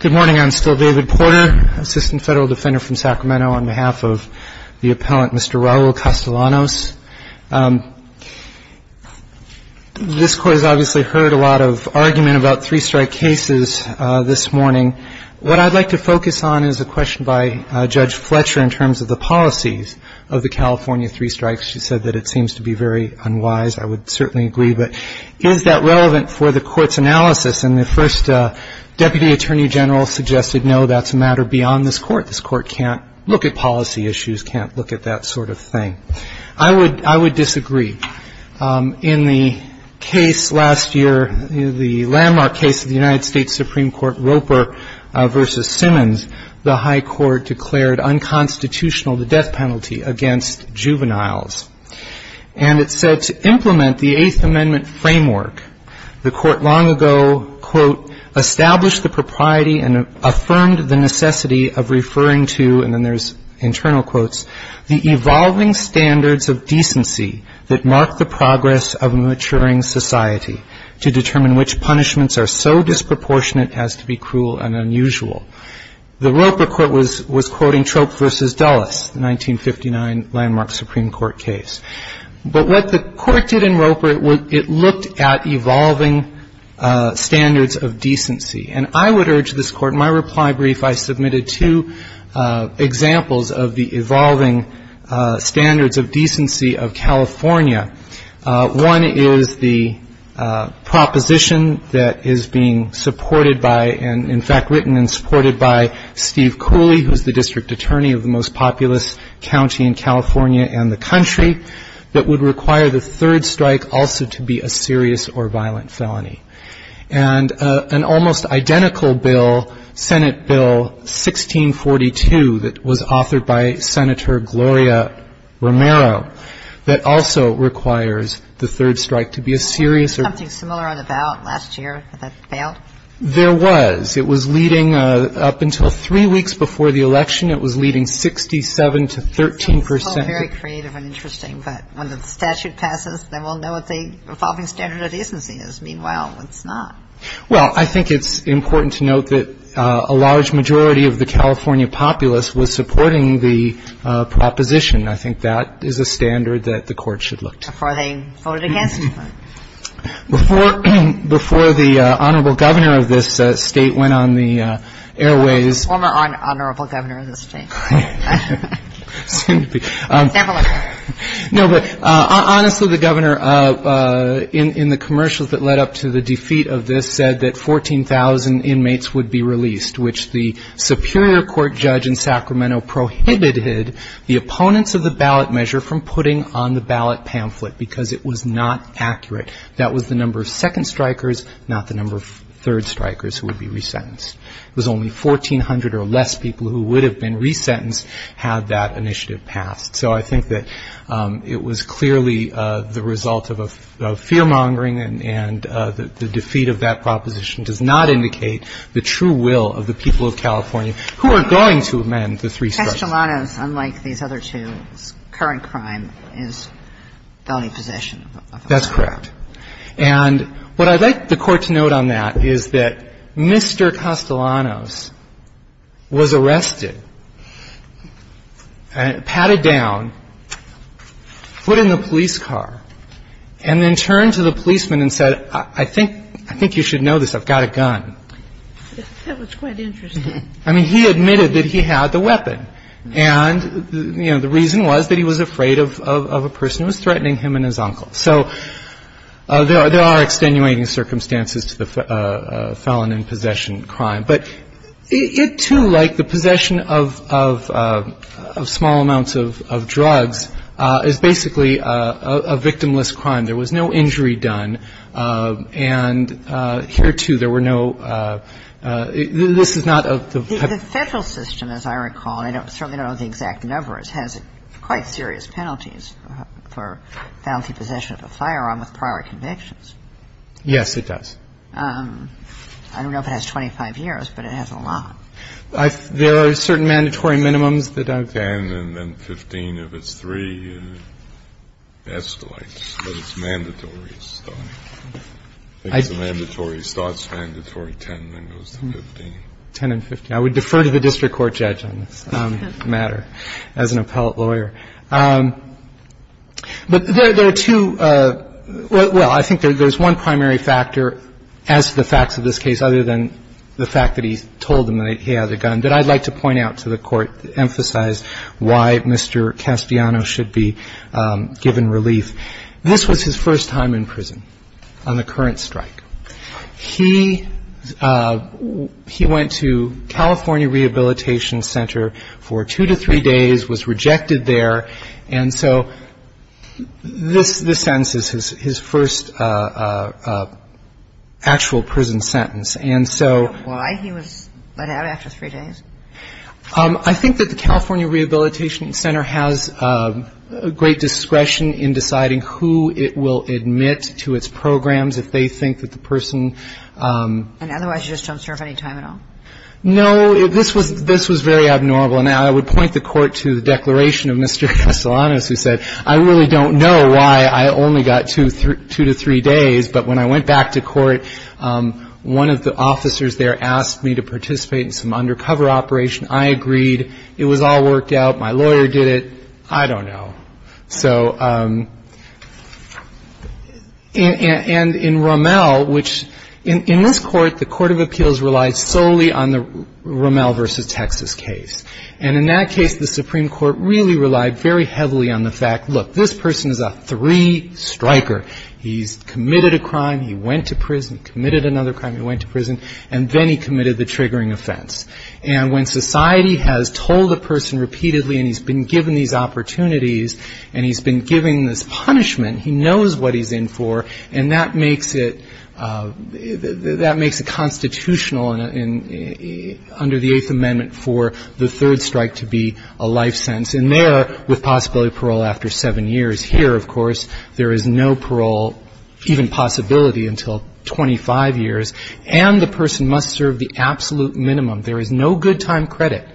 Good morning. I'm still David Porter, Assistant Federal Defender from Sacramento, on behalf of the appellant Mr. Raul Castellanos. This Court has obviously heard a lot of argument about three strike cases this morning. What I'd like to focus on is a question by Judge Fletcher in terms of the policies of the California three strikes. She said that it seems to be very unwise. I would certainly agree. But is that relevant for the Court's analysis? And the first Deputy Attorney General suggested no, that's a matter beyond this Court. This Court can't look at policy issues, can't look at that sort of thing. I would disagree. In the case last year, the landmark case of the United States Supreme Court, Roper v. Simmons, the High Court declared unconstitutional the death penalty against juveniles. And it said to implement the Eighth Amendment framework, the Court long ago, quote, established the propriety and affirmed the necessity of referring to, and then there's internal quotes, the evolving standards of decency that mark the progress of a maturing society, to determine which punishments are so disproportionate as to be cruel and unusual. The Roper Court was quoting Troop v. Dulles, the 1959 landmark Supreme Court case. But what the Court did in Roper, it looked at evolving standards of decency. And I would urge this Court, in my reply brief, I submitted two examples of the evolving standards of decency of California. One is the proposition that is being supported by, and in fact written and supported by, Steve Cooley, who's the district attorney of the most populous county in California and the country, that would require the third strike also to be a serious or violent felony. And an almost identical bill, Senate Bill 1642, that was authored by Senator Gloria Romero, that also requires the third strike to be a serious or violent felony. There was. It was leading up until three weeks before the election. It was leading 67 to 13 percent. Very creative and interesting. But when the statute passes, then we'll know what the evolving standard of decency is. Meanwhile, it's not. Well, I think it's important to note that a large majority of the California populace was supporting the proposition. I think that is a standard that the Court should look to. Before they voted against it. Before the Honorable Governor of this State went on the airways. Former Honorable Governor of the State. No, but honestly, the Governor, in the commercials that led up to the defeat of this, said that 14,000 inmates would be released, which the Superior Court judge in Sacramento prohibited the opponents of the ballot measure from putting on the ballot pamphlet, because it was not accurate. That was the number of second strikers, not the number of third strikers who would be resentenced. It was only 1,400 or less people who would have been resentenced had that initiative passed. So I think that it was clearly the result of a fear-mongering, and the defeat of that proposition does not indicate the true will of the people of California who are going to amend the three strikes. Kastelanos, unlike these other two, current crime is felony possession. That's correct. And what I'd like the Court to note on that is that Mr. Kastelanos was arrested, patted down, put in the police car, and then turned to the policeman and said, I think you should know this. I've got a gun. That was quite interesting. I mean, he admitted that he had the weapon. And, you know, the reason was that he was afraid of a person who was threatening him and his uncle. So there are extenuating circumstances to the felon in possession crime. But it, too, like the possession of small amounts of drugs, is basically a victimless crime. There was no injury done. And here, too, there were no — this is not a — The Federal system, as I recall, and I certainly don't know the exact numbers, has quite serious penalties for felony possession of a firearm with prior convictions. Yes, it does. I don't know if it has 25 years, but it has a lot. There are certain mandatory minimums that I've — Ten and then 15 if it's three, and it escalates. But it's mandatory. I think it's a mandatory. It starts mandatory at 10 and then goes to 15. Ten and 15. I would defer to the district court judge on this matter as an appellate lawyer. But there are two — well, I think there's one primary factor, as to the facts of this case, other than the fact that he told them that he had the gun, that I'd like to point out to the Court to emphasize why Mr. Castellano should be given relief. This was his first time in prison on the current strike. He went to California Rehabilitation Center for two to three days, was rejected there, and so this sentence is his first actual prison sentence. And so — Why he was let out after three days? I think that the California Rehabilitation Center has great discretion in deciding who it will admit to its programs if they think that the person — And otherwise you just don't serve any time at all? No. This was very abnormal. And I would point the Court to the declaration of Mr. Castellano, who said, I really don't know why I only got two to three days, but when I went back to court, one of the officers there asked me to participate in some undercover operation. I agreed. It was all worked out. My lawyer did it. I don't know. So — and in Rommel, which — in this Court, the Court of Appeals relied solely on the Rommel v. Texas case. And in that case, the Supreme Court really relied very heavily on the fact, look, this person is a three-striker. He's committed a crime. He went to prison. He committed another crime. He went to prison. And then he committed the triggering offense. And when society has told a person repeatedly and he's been given these opportunities and he's been given this punishment, he knows what he's in for, and that makes it — that makes it constitutional under the Eighth Amendment for the third strike to be a life sentence. And there, with possibility of parole after seven years, here, of course, there is no parole, even possibility, until 25 years, and the person must serve the absolute minimum. There is no good-time credit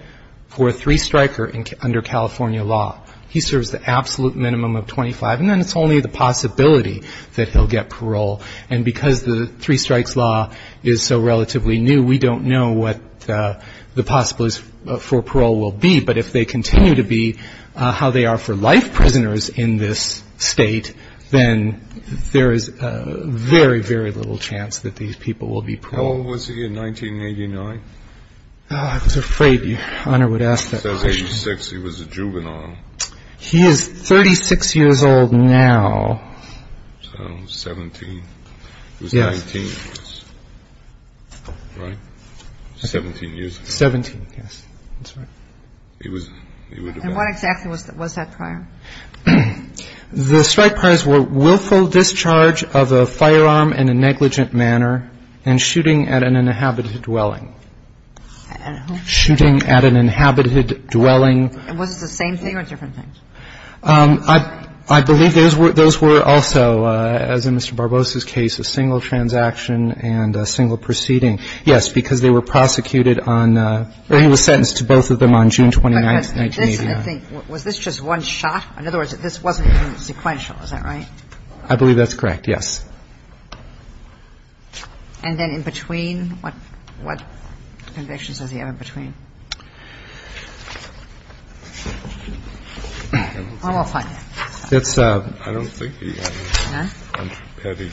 for a three-striker under California law. He serves the absolute minimum of 25, and then it's only the possibility that he'll get parole. And because the three-strikes law is so relatively new, we don't know what the possibilities for parole will be. But if they continue to be how they are for life, prisoners in this state, then there is very, very little chance that these people will be paroled. How old was he in 1989? I was afraid Your Honor would ask that question. He was 86. He was a juvenile. He is 36 years old now. So 17. He was 19, right? 17 years. 17, yes. That's right. And what exactly was that prior? The strike priors were willful discharge of a firearm in a negligent manner and shooting at an inhabited dwelling. Shooting at an inhabited dwelling. And was it the same thing or different things? I believe those were also, as in Mr. Barbosa's case, a single transaction and a single proceeding. Yes, because they were prosecuted on or he was sentenced to both of them on June 29, 1989. Was this just one shot? In other words, this wasn't even sequential. Is that right? I believe that's correct, yes. And then in between, what convictions does he have in between? I don't think he has any.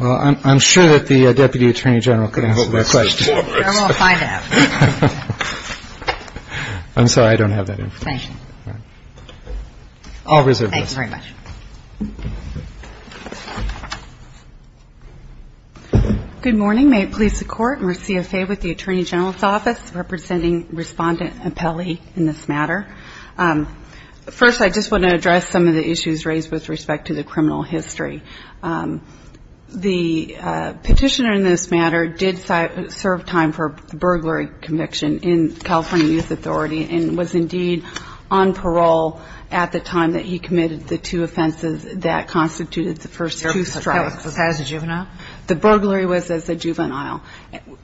Well, I'm sure that the Deputy Attorney General can help me with that question. I'm going to find out. I'm sorry. I don't have that information. Thank you. Thank you. Thank you. Thank you. Thank you. Thank you. Thank you. Thank you. Good morning. May it please the Court, and we're CFA with the Attorney General's Office representing Respondent Apelli in this matter. First, I just want to address some of the issues raised with respect to the criminal history. The petitioner in this matter did serve time for a burglary conviction in California Youth Authority and was indeed on parole at the time that he committed the two offenses that constituted the first two strikes. Was that as a juvenile? The burglary was as a juvenile.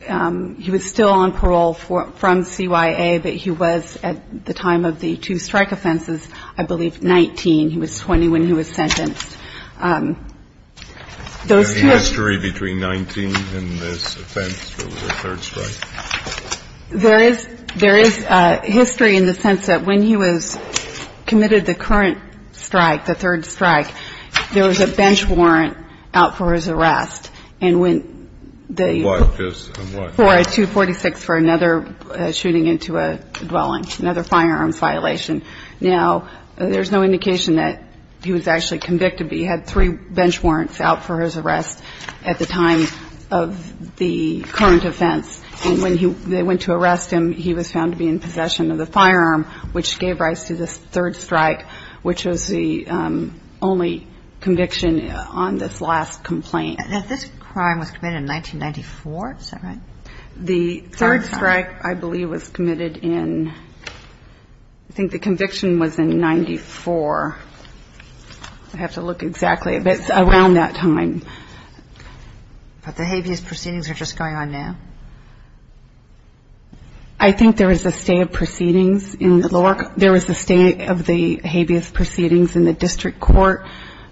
He was still on parole from CYA, but he was at the time of the two strike offenses, I believe, 19. He was 20 when he was sentenced. Is there any history between 19 and this offense where there was a third strike? There is history in the sense that when he was committed the current strike, the third strike, there was a bench warrant out for his arrest. And when the 246 for another shooting into a dwelling, another firearms violation. Now, there's no indication that he was actually convicted, but he was found to be, had three bench warrants out for his arrest at the time of the current offense. And when they went to arrest him, he was found to be in possession of the firearm, which gave rise to the third strike, which was the only conviction on this last complaint. Now, this crime was committed in 1994. Is that right? The third strike, I believe, was committed in, I think the conviction was in 94. I have to look exactly, but it's around that time. But the habeas proceedings are just going on now? I think there was a stay of proceedings. There was a stay of the habeas proceedings in the district court.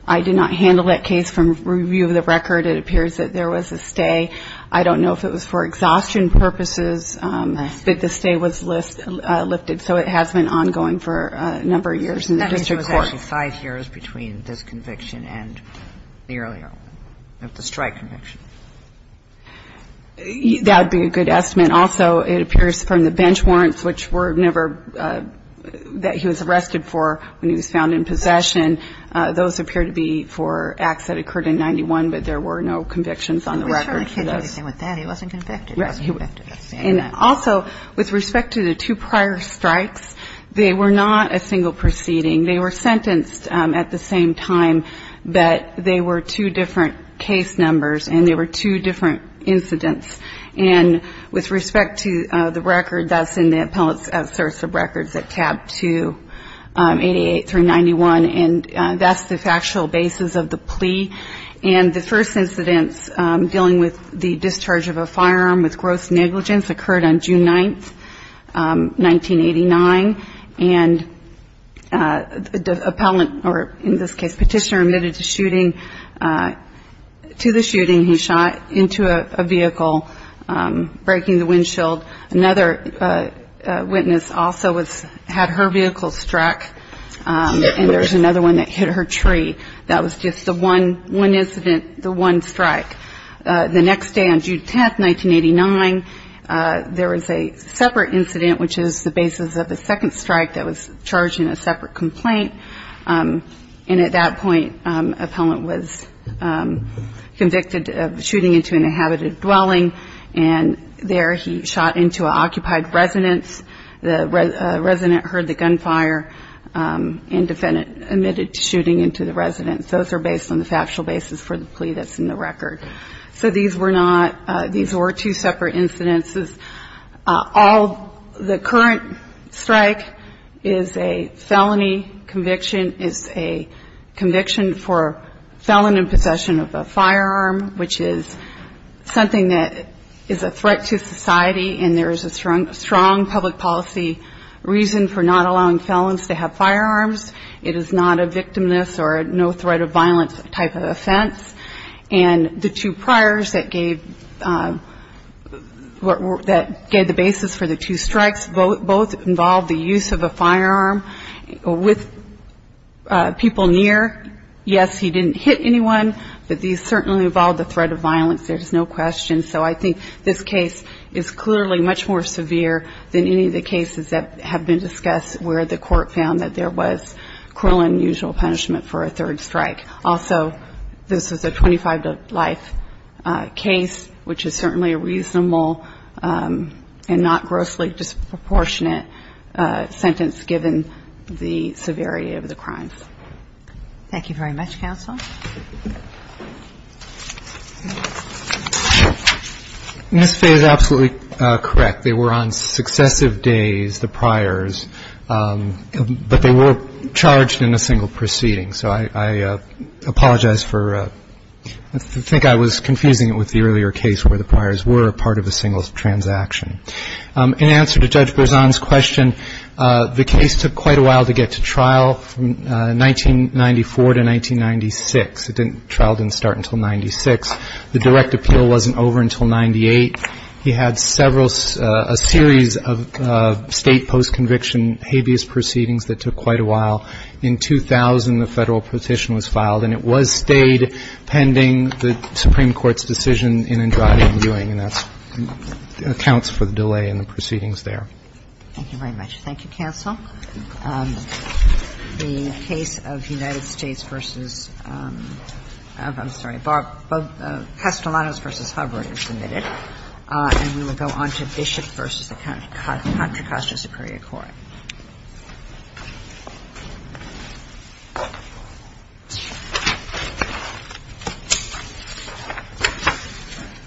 I did not handle that case from review of the record. It appears that there was a stay. I don't know if it was for exhaustion purposes, but the stay was lifted, so it has been ongoing for a number of years in the district court. That means it was actually five years between this conviction and the earlier one, the strike conviction. That would be a good estimate. Also, it appears from the bench warrants, which were never, that he was arrested for when he was found in possession, those appear to be for acts that occurred in 91, but there were no convictions on the record for this. I'm pretty sure I can't do anything with that. He wasn't convicted. He wasn't convicted. And also, with respect to the two prior strikes, they were not a single proceeding. They were sentenced at the same time, but they were two different case numbers and they were two different incidents. And with respect to the record, that's in the Appellate's Outsource of Records at tab 2, 88 through 91, And the first incidents dealing with the discharge of a firearm with gross negligence occurred on June 9, 1989. And the appellant, or in this case, petitioner, admitted to the shooting. He shot into a vehicle, breaking the windshield. Another witness also had her vehicle struck, and there's another one that hit her tree. That was just the one incident, the one strike. The next day, on June 10, 1989, there was a separate incident, which is the basis of the second strike that was charged in a separate complaint. And at that point, the appellant was convicted of shooting into an inhabited dwelling, and there he shot into an occupied residence. The resident heard the gunfire and admitted to shooting into the residence. Those are based on the factual basis for the plea that's in the record. So these were not – these were two separate incidents. All – the current strike is a felony conviction. It's a conviction for felon in possession of a firearm, which is something that is a threat to society, and there is a strong public policy reason for not allowing felons to have firearms. It is not a victimless or no-threat-of-violence type of offense. And the two priors that gave – that gave the basis for the two strikes, both involved the use of a firearm with people near. Yes, he didn't hit anyone, but these certainly involved the threat of violence. There is no question. So I think this case is clearly much more severe than any of the cases that have been discussed where the court found that there was cruel and unusual punishment for a third strike. Also, this is a 25-to-life case, which is certainly a reasonable and not grossly disproportionate sentence given the severity of the crimes. Thank you very much, counsel. Ms. Fay is absolutely correct. They were on successive days, the priors, but they were charged in a single proceeding. So I apologize for – I think I was confusing it with the earlier case where the priors were part of a single transaction. In answer to Judge Berzon's question, the case took quite a while to get to trial, from 1994 to 1996. The trial didn't start until 96. The direct appeal wasn't over until 98. He had several – a series of State post-conviction habeas proceedings that took quite a while. In 2000, the Federal petition was filed, and it was stayed pending the Supreme Court's decision in Andrade and Ewing, and that's – accounts for the delay in the proceedings there. Thank you very much. Thank you, counsel. The case of United States v. – I'm sorry, Castellanos v. Hubbard is submitted. And we will go on to Bishop v. the Contra Costa Superior Court. Thank you.